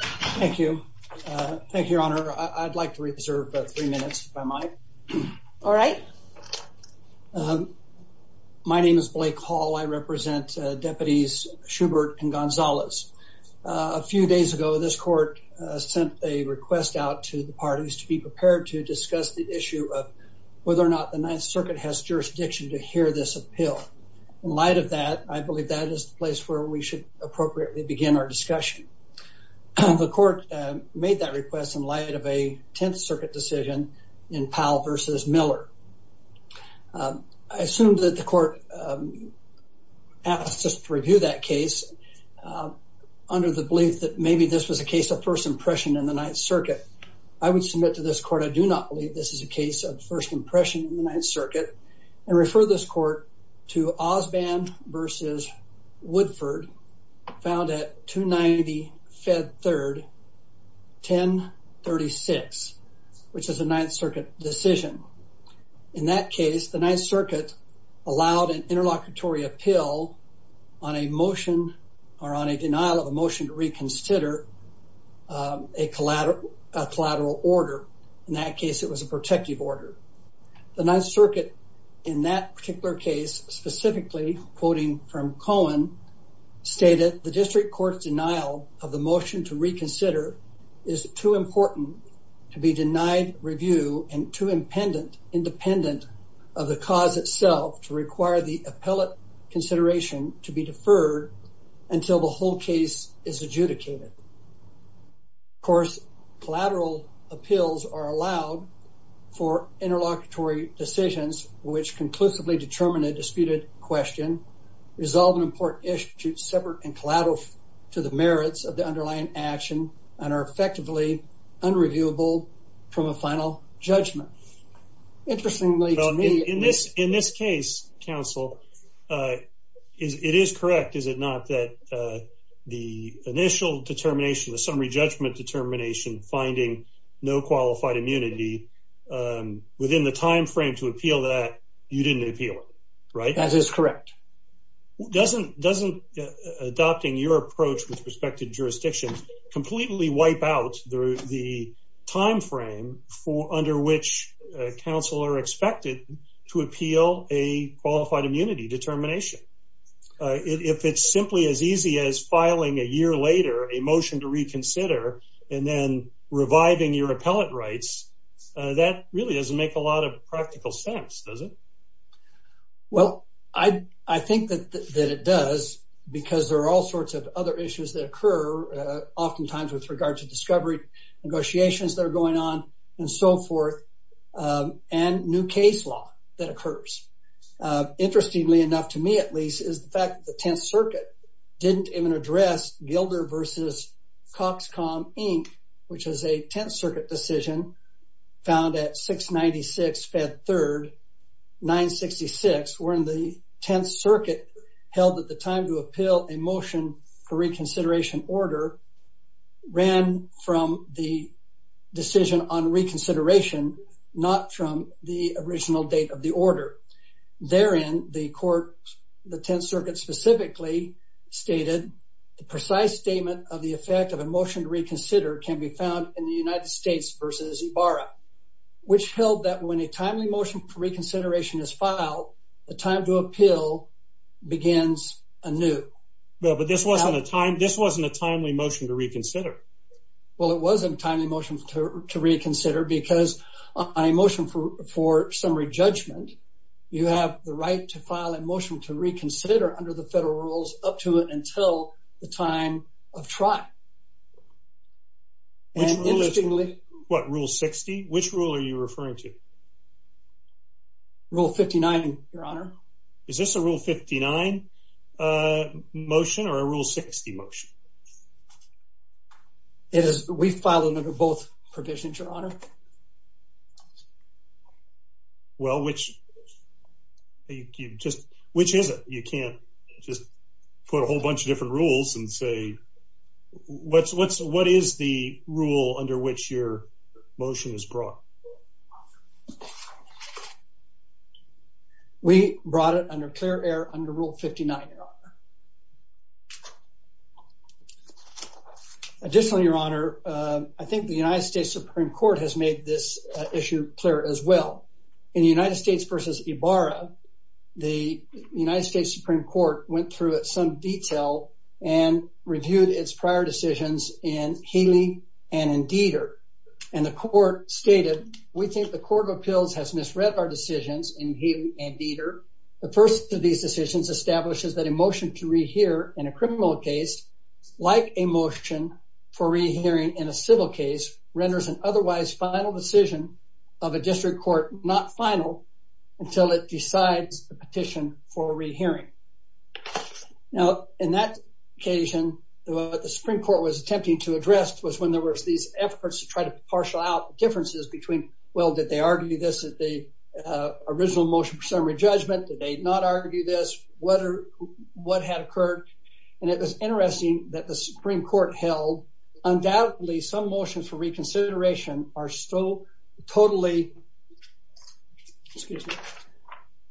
Thank you. Thank you, Your Honor. I'd like to reserve three minutes if I might. All right. My name is Blake Hall. I represent deputies Shubert and Gonzalez. A few days ago, this court sent a request out to the parties to be prepared to discuss the issue of whether or not the Ninth Circuit has jurisdiction to hear this appeal. In light of that, I believe that is the discussion. The court made that request in light of a Tenth Circuit decision in Powell v. Miller. I assume that the court asked us to review that case under the belief that maybe this was a case of first impression in the Ninth Circuit. I would submit to this court I do not believe this is a case of first impression in the Ninth Circuit and refer this court to Osband v. Woodford, found at 290 Fed Third 1036, which is a Ninth Circuit decision. In that case, the Ninth Circuit allowed an interlocutory appeal on a motion or on a denial of a motion to reconsider a collateral order. In that case, it was a protective order. The Ninth Circuit, in that particular case, specifically quoting from Cohen, stated the district court's denial of the motion to reconsider is too important to be denied review and too independent of the cause itself to require the appellate consideration to be deferred until the whole case is adjudicated. Of course, collateral appeals are allowed for interlocutory decisions which conclusively determine a disputed question, resolve an important issue, separate and collateral to the merits of the underlying action, and are effectively unreviewable from a final judgment. Interestingly in this case, counsel, it is correct, is it not, that the initial determination, the summary judgment determination, finding no qualified immunity within the time frame to appeal that, you didn't appeal it, right? That is correct. Doesn't adopting your approach with respect to appeal a qualified immunity determination? If it's simply as easy as filing a year later a motion to reconsider and then reviving your appellate rights, that really doesn't make a lot of practical sense, does it? Well, I think that it does because there are all sorts of other issues that occur oftentimes with regard to discovery negotiations that are going on and so forth, and new case law that occurs. Interestingly enough, to me at least, is the fact that the Tenth Circuit didn't even address Gilder v. Coxcom Inc., which is a Tenth Circuit decision found at 696 Fed 3rd, 966, wherein the Tenth Circuit held at the time to appeal a motion for reconsideration order ran from the decision on reconsideration, not from the original date of the order. Therein, the court, the Tenth Circuit specifically stated the precise statement of the effect of a motion to reconsider can be found in the United States v. Ibarra, which held that when this wasn't a timely motion to reconsider. Well, it wasn't a timely motion to reconsider because on a motion for summary judgment, you have the right to file a motion to reconsider under the federal rules up to and until the time of trial. And interestingly... What, Rule 60? Which rule are you referring to? Rule 59, Your Honor. Is this a Rule 59 motion or a Rule 60 motion? We file them under both provisions, Your Honor. Well, which is it? You can't just put a whole bunch of different rules and say... What is the rule under which your motion is brought? We brought it under clear air under Rule 59, Your Honor. Additionally, Your Honor, I think the United States Supreme Court has made this issue clear as well. In the United States v. Ibarra, the United States Supreme Court went through it in some detail and reviewed its prior decisions in Haley and in Deiter. And the court stated that we think the Court of Appeals has misread our decisions in Haley and Deiter. The first of these decisions establishes that a motion to rehear in a criminal case, like a motion for rehearing in a civil case, renders an otherwise final decision of a district court not final until it decides the petition for rehearing. Now, in that occasion, what the Supreme Court was attempting to address was when there were these efforts to try to partial out the differences between, well, did they argue this at the original motion for summary judgment? Did they not argue this? What had occurred? And it was interesting that the Supreme Court held undoubtedly some motions for reconsideration are so totally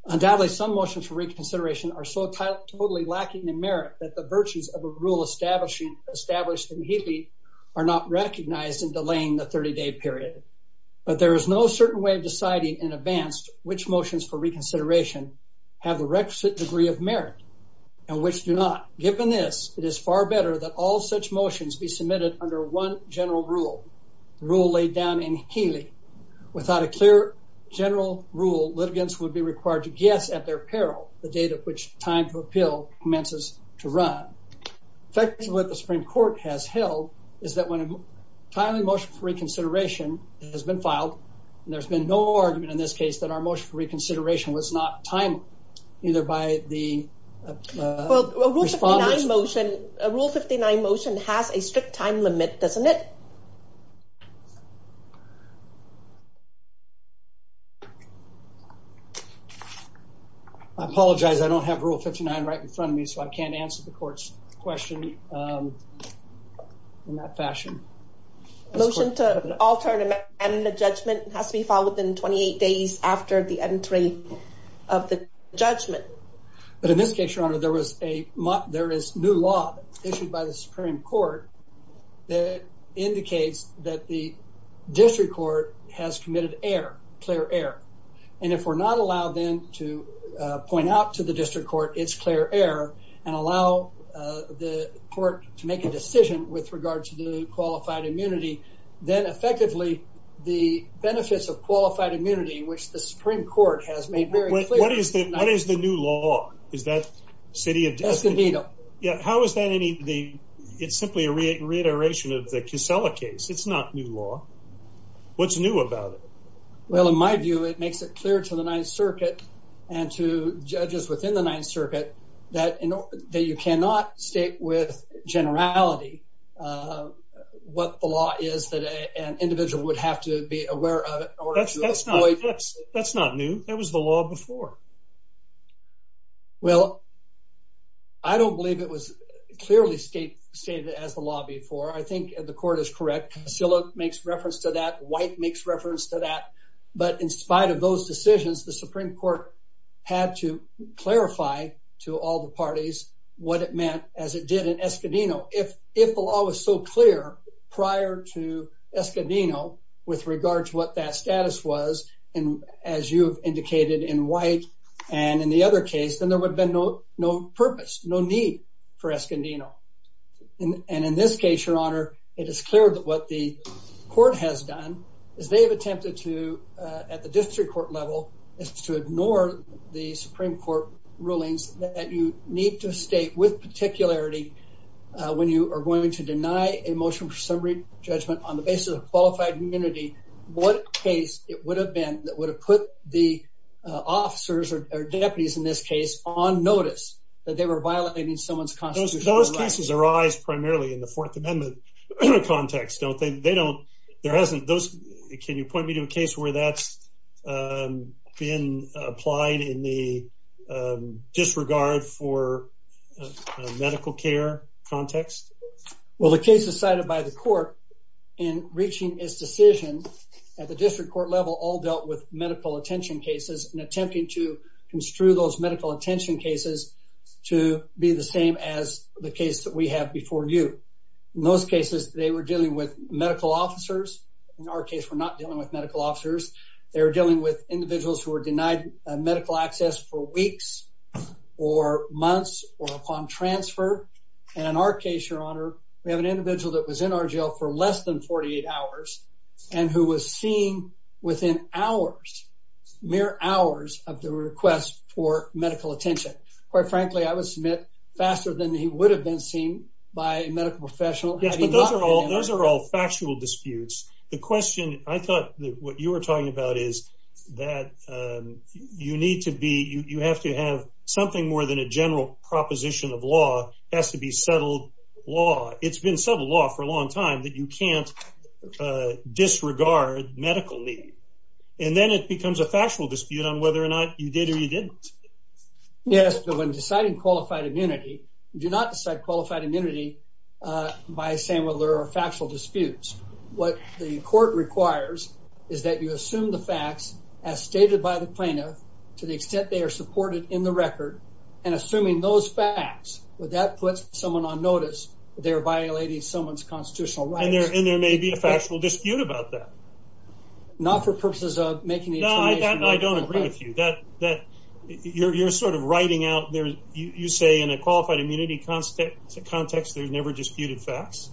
lacking in merit that the virtues of a rule established in Haley are not recognized in delaying the 30-day period. But there is no certain way of deciding in advance which motions for reconsideration have the requisite degree of merit and which do not. Given this, it is far better that all such motions be submitted under one general rule, the rule laid down in Haley. Without a clear general rule, litigants would be required to guess at their peril the date at which time to appeal commences to run. In fact, what the Supreme Court has held is that when a timely motion for reconsideration was filed, there's been no argument in this case that our motion for reconsideration was not timely either by the... Well, a Rule 59 motion has a strict time limit, doesn't it? I apologize, I don't have Rule 59 right in front of me, so I can't answer the court's question in that fashion. Motion to alter the judgment has to be followed within 28 days after the entry of the judgment. But in this case, Your Honor, there is a new law issued by the Supreme Court that indicates that the district court has committed error, clear error. And if we're not allowed then to point out to the district court it's clear error and allow the court to make a decision with regard to the qualified immunity, then effectively the benefits of qualified immunity, which the Supreme Court has made very clear... What is the new law? Is that City of... Escondido. Yeah, how is that any... It's simply a reiteration of the Kissela case. It's not new law. What's new about it? Well, in my view, it makes it clear to the Ninth Circuit and to judges within the Ninth Circuit that you cannot state with generality what the law is that an individual would have to be aware of it. That's not new. That was the law before. Well, I don't believe it was clearly stated as the law before. I think the court is correct. Kissela makes reference to that. White makes reference to that. But in spite of those decisions, the Supreme Court had to clarify to all the parties what it meant as it did in Escondido. If the law was so clear prior to Escondido with regards to what that status was, and as you've indicated in White and in the other case, then there would have been no purpose, no need for Escondido. And in this case, Your Honor, it is clear that what the court has done is they have attempted to, at the district court level, is to ignore the Supreme Court rulings that you need to state with particularity when you are going to deny a motion for summary judgment on the basis of qualified immunity what case it would have been that would have put the officers or deputies in this case on notice that they were violating someone's constitutional right. Those can you point me to a case where that's been applied in the disregard for medical care context? Well, the cases cited by the court in reaching his decision at the district court level all dealt with medical attention cases and attempting to construe those medical attention cases to be the same as the case that we have before you. In those cases, they were dealing with medical officers. In our case, we're not dealing with medical officers. They were dealing with individuals who were denied medical access for weeks or months or upon transfer. And in our case, Your Honor, we have an individual that was in our jail for less than 48 hours and who was seen within hours, mere hours, of the request for medical attention. Quite frankly, I would submit faster than he would have been seen by a medical professional. Yes, but those are all factual disputes. The question I thought what you were talking about is that you need to be, you have to have something more than a general proposition of law. It has to be settled law. It's been settled law for a long time that you can't disregard medical need. And then it becomes a factual dispute on whether or not you did or you didn't. Yes, but when deciding qualified immunity, you do not decide qualified immunity by saying whether there are factual disputes. What the court requires is that you assume the facts as stated by the plaintiff to the extent they are supported in the record. And assuming those facts, would that put someone on notice they're violating someone's constitutional rights? And there may be a factual dispute about that. Not for purposes of making I don't agree with you that that you're sort of writing out there. You say in a qualified immunity context, there's never disputed facts.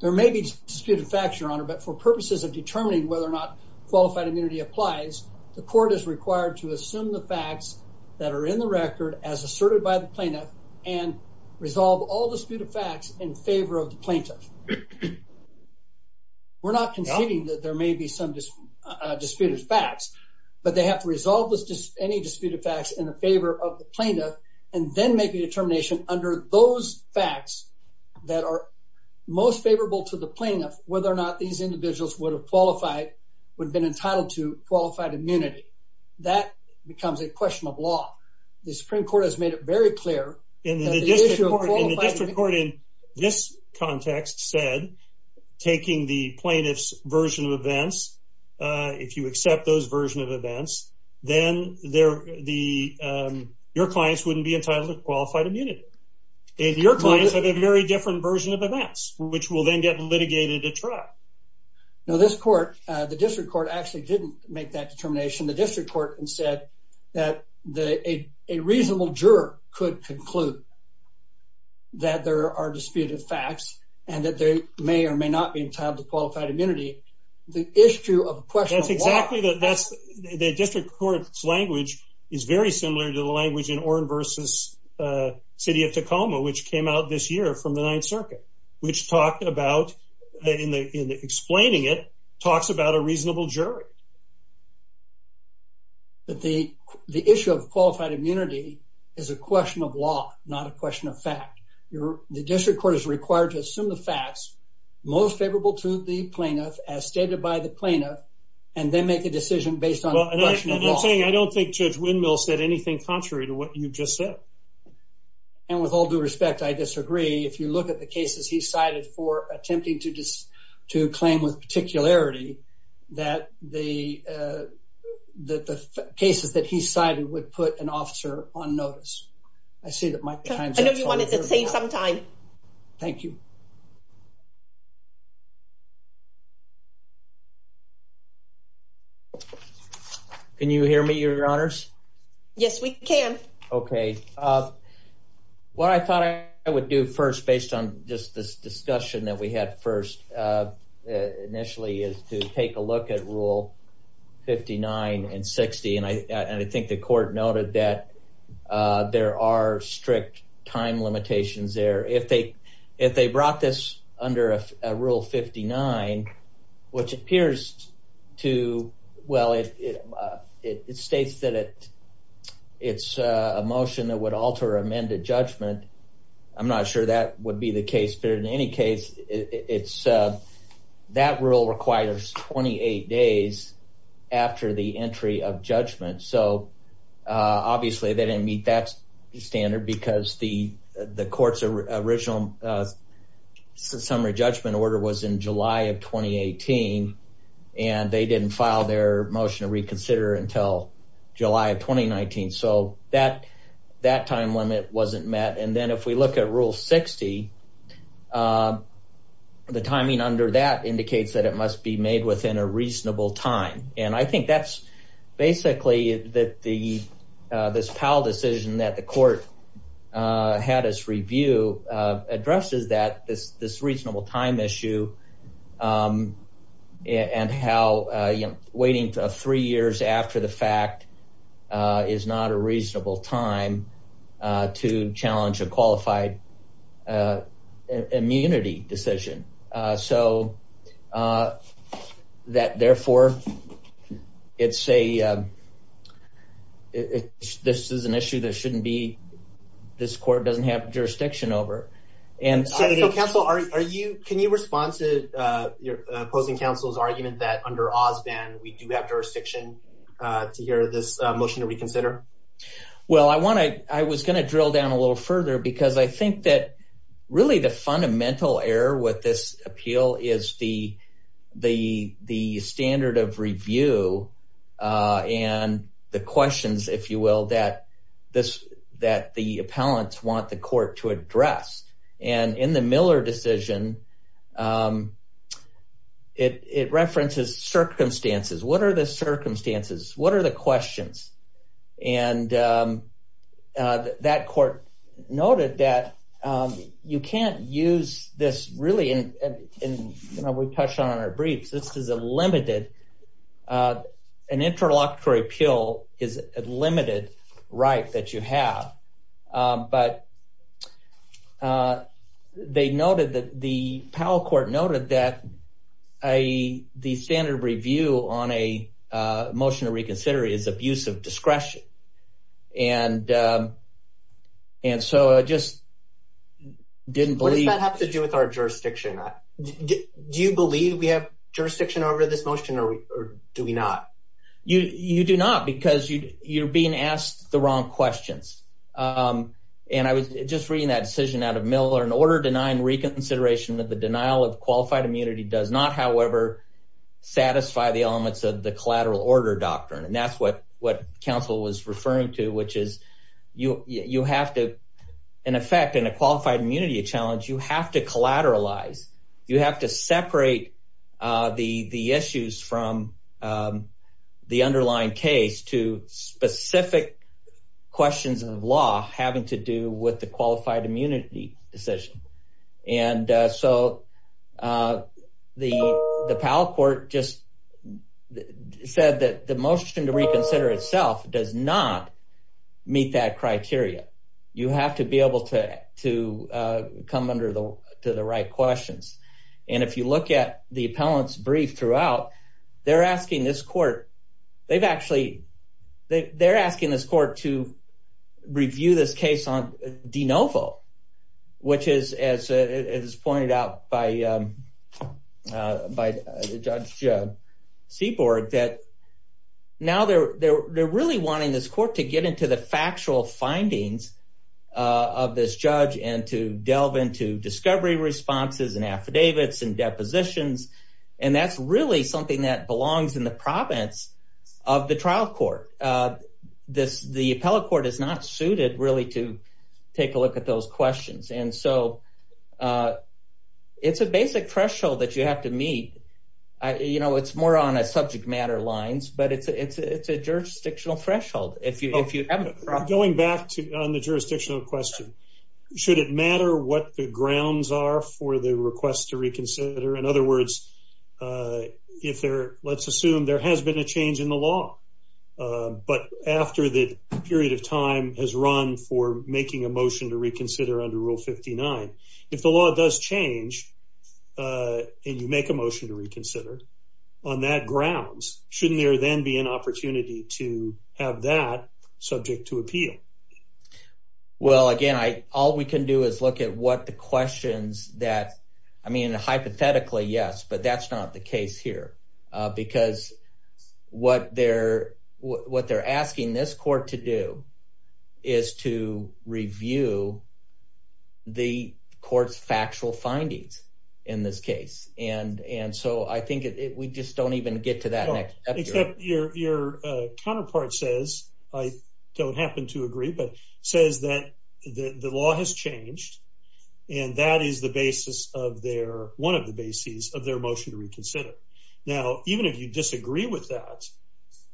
There may be disputed facts, your honor, but for purposes of determining whether or not qualified immunity applies, the court is required to assume the facts that are in the record as asserted by the plaintiff and resolve all disputed facts in favor of the plaintiff. We're not conceding that there may be some disputed facts. But they have to resolve any disputed facts in the favor of the plaintiff and then make a determination under those facts that are most favorable to the plaintiff, whether or not these individuals would have qualified, would have been entitled to qualified immunity. That becomes a question of law. The Supreme Court has made it very clear. In the district court in this context said, taking the plaintiff's version of events, if you accept those version of events, then your clients wouldn't be entitled to qualified immunity. And your clients have a very different version of events, which will then get litigated at trial. Now this court, the district court, actually didn't make that determination. The district court said that a reasonable juror could conclude that there are disputed facts and that they may or may not be entitled to qualified immunity. The issue of a question of law... That's exactly that. That's the district court's language is very similar to the language in Oren versus City of Tacoma, which came out this year from the Ninth Circuit, which talked about, in explaining it, talks about a reasonable jury. But the issue of qualified immunity is a question of law, not a question of fact. The district court is required to assume the facts most favorable to the plaintiff, as stated by the plaintiff, and then make a decision based on a question of law. I don't think Judge Windmill said anything contrary to what you just said. And with all due respect, I disagree. If you look at the cases he cited, I don't think there's a particularity that the cases that he cited would put an officer on notice. I see that my time's up. I know you wanted to save some time. Thank you. Can you hear me, Your Honors? Yes, we can. Okay. What I thought I would do first, based on just this discussion that we had first initially, is to take a look at Rule 59 and 60. And I think the court noted that there are strict time limitations there. If they brought this under Rule 59, which appears to, well, it states that it's a motion that would alter amended judgment. I'm not sure that would be the case. But in any case, that rule requires 28 days after the entry of judgment. So obviously, they didn't meet that standard because the court's original summary judgment order was in July of 2018. And they didn't file their motion to admit. And then if we look at Rule 60, the timing under that indicates that it must be made within a reasonable time. And I think that's basically this Powell decision that the court had us review addresses this reasonable time issue and how waiting three years after the fact is not a reasonable time to challenge a qualified immunity decision. So that therefore, it's a, this is an issue that shouldn't be, this court doesn't have jurisdiction over. So, counsel, can you respond to your opposing counsel's argument that under Osbon, we do have jurisdiction to hear this motion to reconsider? Well, I want to, I was going to drill down a little further, because I think that really the fundamental error with this appeal is the standard of review and the questions, if you will, that the appellants want the court to address. And in the Miller decision, it references circumstances. What are the circumstances? What are the questions? And that court noted that you can't use this really, and we touched on in our briefs, this is a limited, an interlocutory appeal is a limited right that you have. But they noted that the Powell court noted that a, the standard review on a motion to reconsider is abusive discretion. And, and so I just didn't believe. What does that have to do with our jurisdiction? Do you believe we have jurisdiction over this motion or do we not? You, you do not because you, you're being asked the wrong questions. And I was just reading that decision out of Miller, an order denying reconsideration of the denial of qualified immunity does not, however, satisfy the elements of the collateral order doctrine. And that's what, what counsel was referring to, which is you, you have to, in effect, in a qualified immunity challenge, you have to collateralize, you have to separate the issues from the underlying case to specific questions of law having to do with the qualified immunity decision. And so the, the Powell court just said that the motion to reconsider itself does not meet that criteria. You have to be able to come under the, to the right questions. And if you look at the appellant's brief throughout, they're asking this court, they've actually, they're asking this court to review this case on de novo, which is, as it is pointed out by by judge Seaborg that now they're, they're, really wanting this court to get into the factual findings of this judge and to delve into discovery responses and affidavits and depositions. And that's really something that belongs in the province of the trial court. This, the appellate court is not suited really to take a look at those questions. And so it's a basic threshold that you have to meet. You know, it's more on a subject matter lines, but it's, it's, it's a jurisdictional threshold. If you, if you going back to on the jurisdictional question, should it matter what the grounds are for the request to reconsider? In other words, if there, let's assume there has been a change in the law, but after the period of time has run for making a motion to reconsider under rule 59, if the law does change, uh, and you make a motion to reconsider on that grounds, shouldn't there then be an opportunity to have that subject to appeal? Well, again, I, all we can do is look at what the questions that, I mean, hypothetically, yes, but that's not the case here. Uh, because what they're, what they're asking this court to do is to review the court's factual findings in this case. And, and so I think it, we just don't even get to that. Except your, your, uh, counterpart says, I don't happen to agree, but says that the law has changed and that is the basis of their, one of the bases of their motion to reconsider. Now, even if you disagree with that,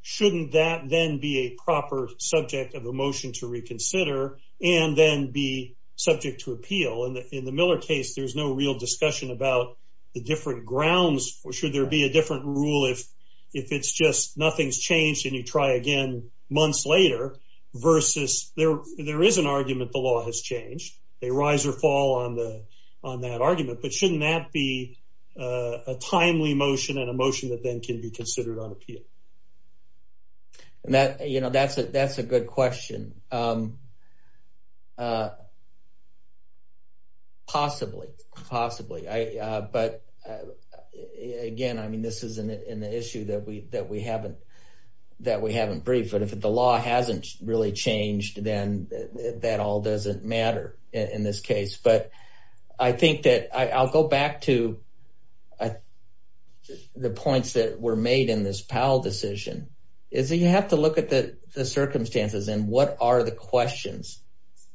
shouldn't that then be a proper subject of a motion to reconsider and then be subject to appeal? And in the Miller case, there's no real discussion about the different grounds. Or should there be a different rule if, if it's just nothing's changed and you try again months later versus there, there is an argument the law has changed, a rise or fall on the, on that argument, but shouldn't that be a timely motion and a motion that then can be considered on appeal? And that, you know, that's a, that's a good question. Um, uh, possibly, possibly. I, uh, but again, I mean, this is an issue that we, that we haven't, that we haven't briefed, but if the law hasn't really changed, then that all doesn't matter in this case. But I think that I I'll go back to the points that were made in this Powell decision is that you have to look at the circumstances and what are the questions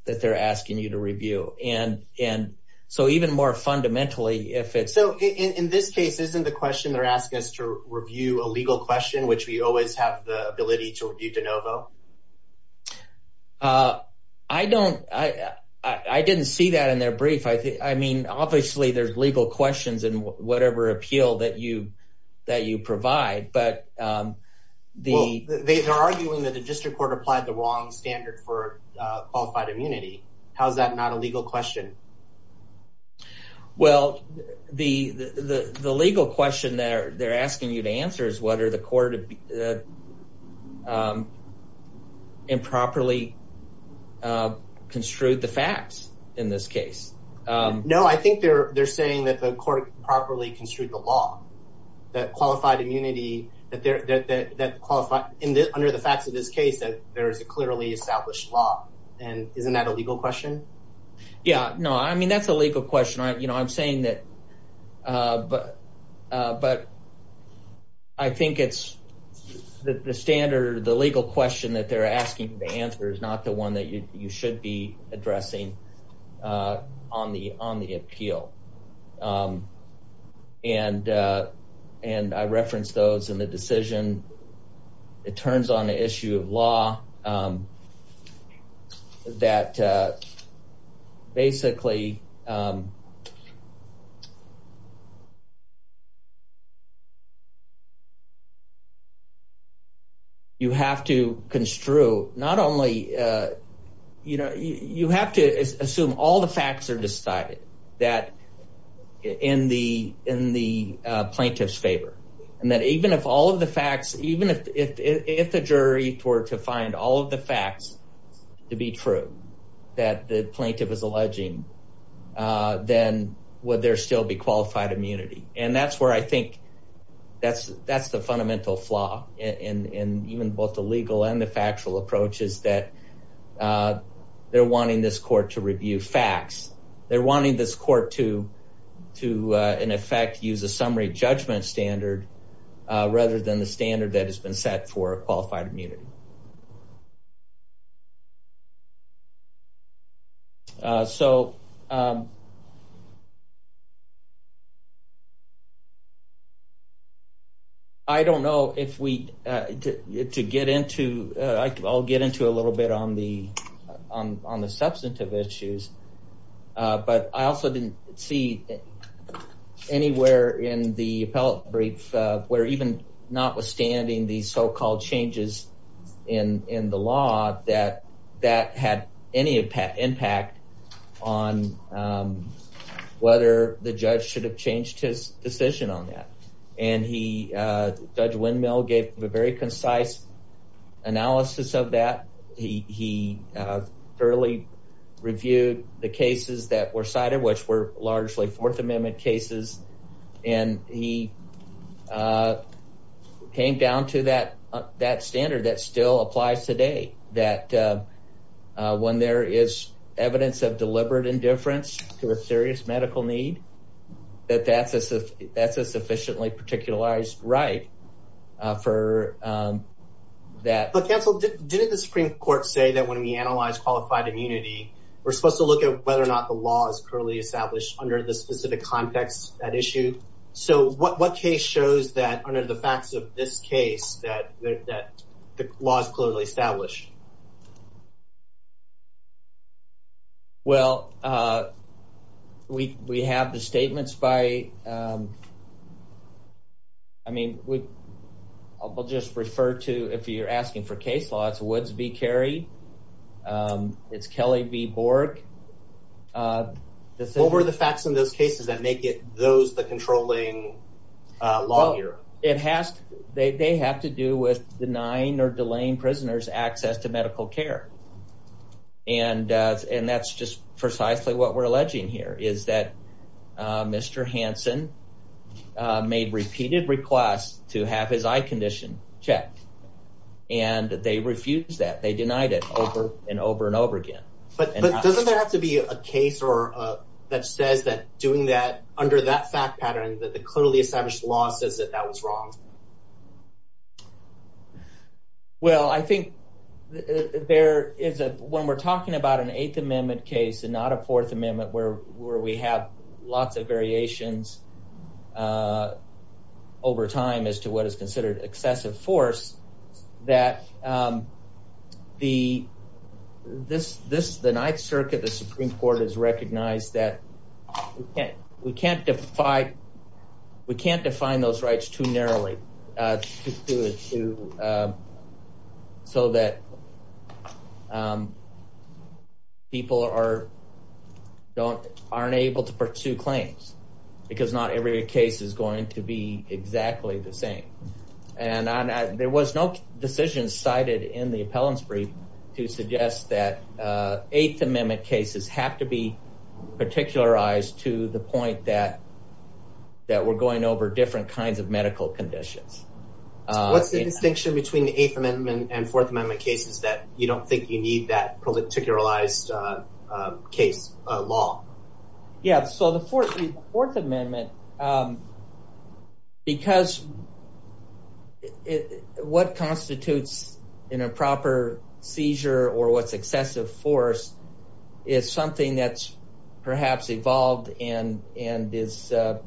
that they're asking you to review? And, and so even more fundamentally, if it's, so in this case, isn't the question they're asking us to review a legal question, which we always have the ability to review de novo. Uh, I don't, I, I didn't see that in their brief. I think, I mean, obviously there's legal questions in whatever appeal that you, that you provide, but, um, the, they're arguing that the district court applied the wrong standard for, uh, qualified immunity. How's that not a whether the court, uh, um, improperly, uh, construed the facts in this case? Um, no, I think they're, they're saying that the court properly construed the law that qualified immunity that there, that, that, that qualified in the, under the facts of this case, that there is a clearly established law. And isn't that a legal question? Yeah, no, I mean, that's a legal question. I, you know, I'm saying that, uh, but, uh, but I think it's the standard, the legal question that they're asking the answer is not the one that you, you should be addressing, uh, on the, on the appeal. Um, and, uh, and I referenced those in the decision. It turns on the um, that, uh, basically, um, you have to construe not only, uh, you know, you, you have to assume all the facts are decided that in the, in the, uh, plaintiff's favor and that even if all of the facts, even if, if, if the jury were to find all of the facts to be true that the plaintiff is alleging, uh, then would there still be qualified immunity? And that's where I think that's, that's the fundamental flaw in, in, in even both the legal and the factual approaches that, uh, they're wanting this court to review facts. They're wanting this court to, to, uh, in effect, use a summary judgment standard, uh, rather than the standard that has been set for qualified immunity. Uh, so, um, I don't know if we, uh, to get into, uh, I'll get into a little bit on the, on, on the substantive issues. Uh, but I also didn't see anywhere in the appellate brief, uh, where even notwithstanding these so-called changes in, in the law that, that had any impact impact on, um, whether the judge should have changed his decision on that. And he, uh, Judge thoroughly reviewed the cases that were cited, which were largely fourth amendment cases. And he, uh, came down to that, that standard that still applies today that, uh, uh, when there is evidence of deliberate indifference to a serious medical need, that that's a, that's a sufficiently particularized right, uh, for, um, that. But counsel, didn't the Supreme Court say that when we analyze qualified immunity, we're supposed to look at whether or not the law is currently established under the specific context, that issue. So what, what case shows that under the facts of this case, that, that the law is clearly established? Well, uh, we, we have the statements by, um, I mean, we'll just refer to, if you're asking for case law, it's Woods v. Carey. Um, it's Kelly v. Borg. Uh, what were the facts in those cases that make it those, the controlling, uh, law here? It has, they, they have to do with denying or delaying prisoners access to medical care. And, uh, and that's just precisely what we're alleging here is that, uh, Mr. Hanson, uh, made repeated requests to have his eye condition checked and that they refuse that they denied it over and over and over again. But, but doesn't there have to be a case or, uh, that says that doing that under that fact pattern that the clearly established law says that that is wrong? Well, I think there is a, when we're talking about an eighth amendment case and not a fourth amendment where, where we have lots of variations, uh, over time as to what is considered excessive force that, um, the, this, this, the ninth circuit, the Supreme court has recognized that we can't, we can't define, we can't define those rights too narrowly, uh, to, uh, so that, um, people are, don't aren't able to pursue claims because not every case is going to be exactly the same. And I, there was no decision cited in the appellants brief to suggest that, uh, eighth amendment cases have to be particularized to the point that, that we're going over different kinds of medical conditions. What's the distinction between the eighth amendment and fourth amendment cases that you don't think you need that particularized, uh, uh, case, uh, law? Yeah. So the fourth, fourth amendment, um, because it, what constitutes in a proper seizure or what's excessive force is something that's perhaps evolved and, and is, uh,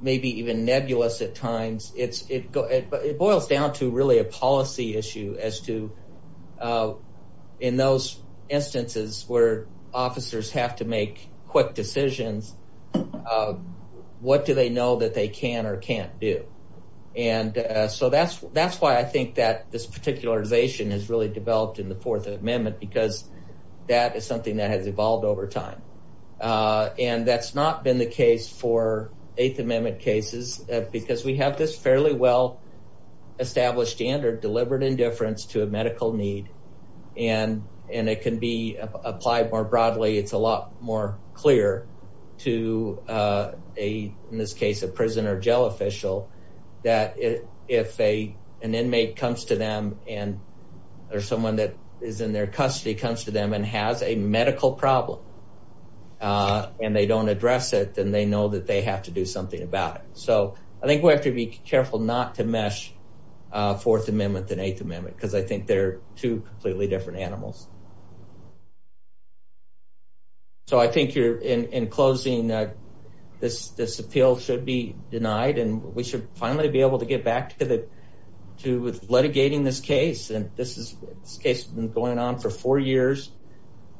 maybe even nebulous at times. It's, it goes, it boils down to really a policy issue as to, uh, in those instances where quick decisions, uh, what do they know that they can or can't do? And, uh, so that's, that's why I think that this particularization has really developed in the fourth amendment because that is something that has evolved over time. Uh, and that's not been the case for eighth amendment cases because we have this fairly well established standard delivered indifference to a clear to, uh, a, in this case, a prison or jail official that if a, an inmate comes to them and or someone that is in their custody comes to them and has a medical problem, uh, and they don't address it, then they know that they have to do something about it. So I think we have to be careful not to mesh, uh, fourth amendment and eighth amendment, because I think they're two completely different animals. So I think you're in, in closing, uh, this, this appeal should be denied and we should finally be able to get back to the, to, with litigating this case. And this is, this case has been going on for four years.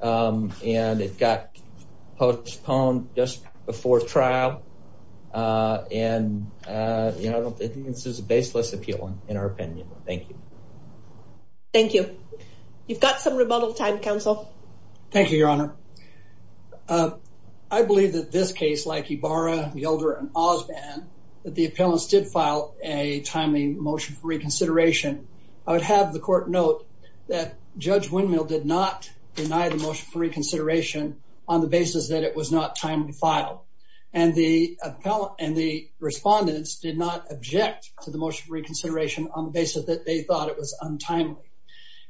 Um, and it got postponed just before trial. Uh, and, uh, you know, I think this is a baseless appeal in our opinion. Thank you. Thank you. You've got some rebuttal time, counsel. Thank you, Your Honor. Uh, I believe that this case, like Ibarra, Yelder, and Osbon, that the appellants did file a timely motion for reconsideration. I would have the court note that Judge Windmill did not deny the motion for reconsideration on the basis that it was not And the appellant and the respondents did not object to the motion for reconsideration on the basis that they thought it was untimely.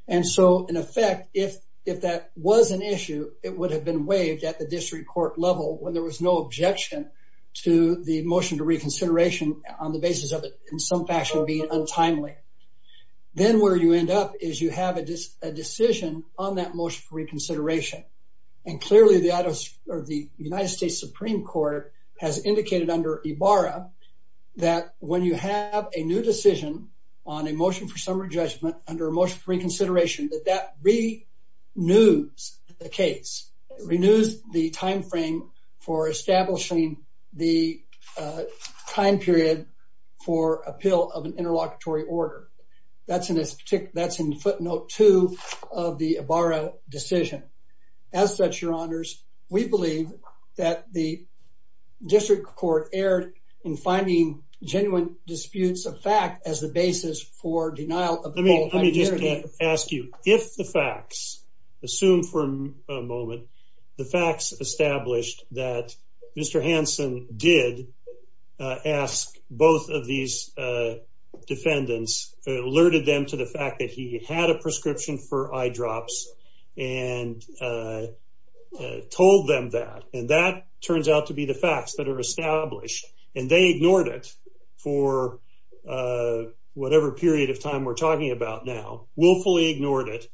And so in effect, if, if that was an issue, it would have been waived at the district court level when there was no objection to the motion to reconsideration on the basis of it in some fashion being untimely. Then where you end up is you have a decision on that motion for reconsideration. And clearly the United States Supreme Court has indicated under Ibarra that when you have a new decision on a motion for summary judgment under a motion for reconsideration, that that renews the case, renews the timeframe for establishing the time period for appeal of We believe that the district court erred in finding genuine disputes of fact as the basis for denial of the whole identity. Let me just ask you, if the facts, assume for a moment, the facts established that Mr. Hanson did ask both of these defendants, alerted them to the fact that he had a prescription for eye drops and told them that, and that turns out to be the facts that are established and they ignored it for whatever period of time we're talking about now, willfully ignored it,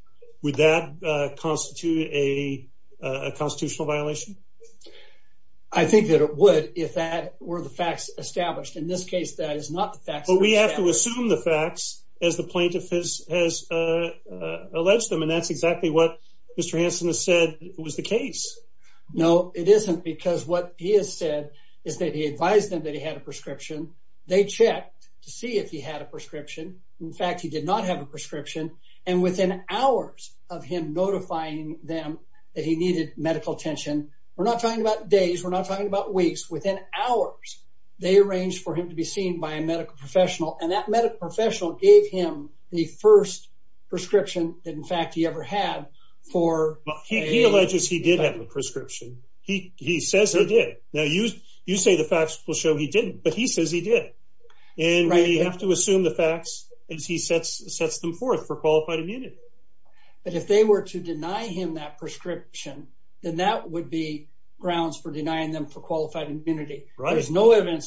would that constitute a constitutional violation? I think that it would if that were the facts established. In this case, that is not the facts. We have to assume the facts as the plaintiff has alleged them. And that's exactly what Mr. Hanson has said was the case. No, it isn't. Because what he has said is that he advised them that he had a prescription. They checked to see if he had a prescription. In fact, he did not have a prescription. And within hours of him notifying them that he needed medical attention, we're not talking about days, we're not talking about weeks. Within hours, they arranged for him to be seen by a medical professional and that medical professional gave him the first prescription that in fact he ever had for... He alleges he did have a prescription. He says he did. Now you say the facts will show he didn't, but he says he did. And we have to assume the facts as he sets them forth for qualified immunity. But if they were to deny him that prescription, then that would be evidence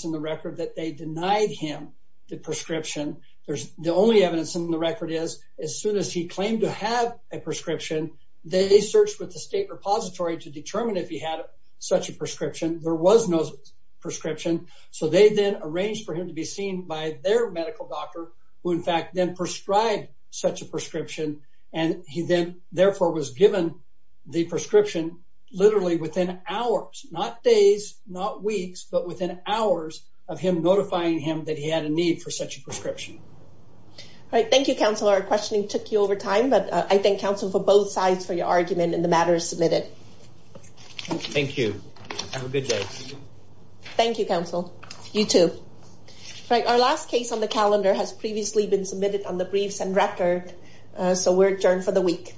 in the record that they denied him the prescription. The only evidence in the record is as soon as he claimed to have a prescription, they searched with the state repository to determine if he had such a prescription. There was no prescription. So they then arranged for him to be seen by their medical doctor, who in fact then prescribed such a prescription. And he then therefore was given the prescription literally within hours, not days, not weeks, but within hours of him notifying him that he had a need for such a prescription. All right. Thank you, counsel. Our questioning took you over time, but I thank counsel for both sides for your argument and the matter is submitted. Thank you. Have a good day. Thank you, counsel. You too. Right. Our last case on the calendar has previously been submitted on the briefs and record. So we're adjourned for the week.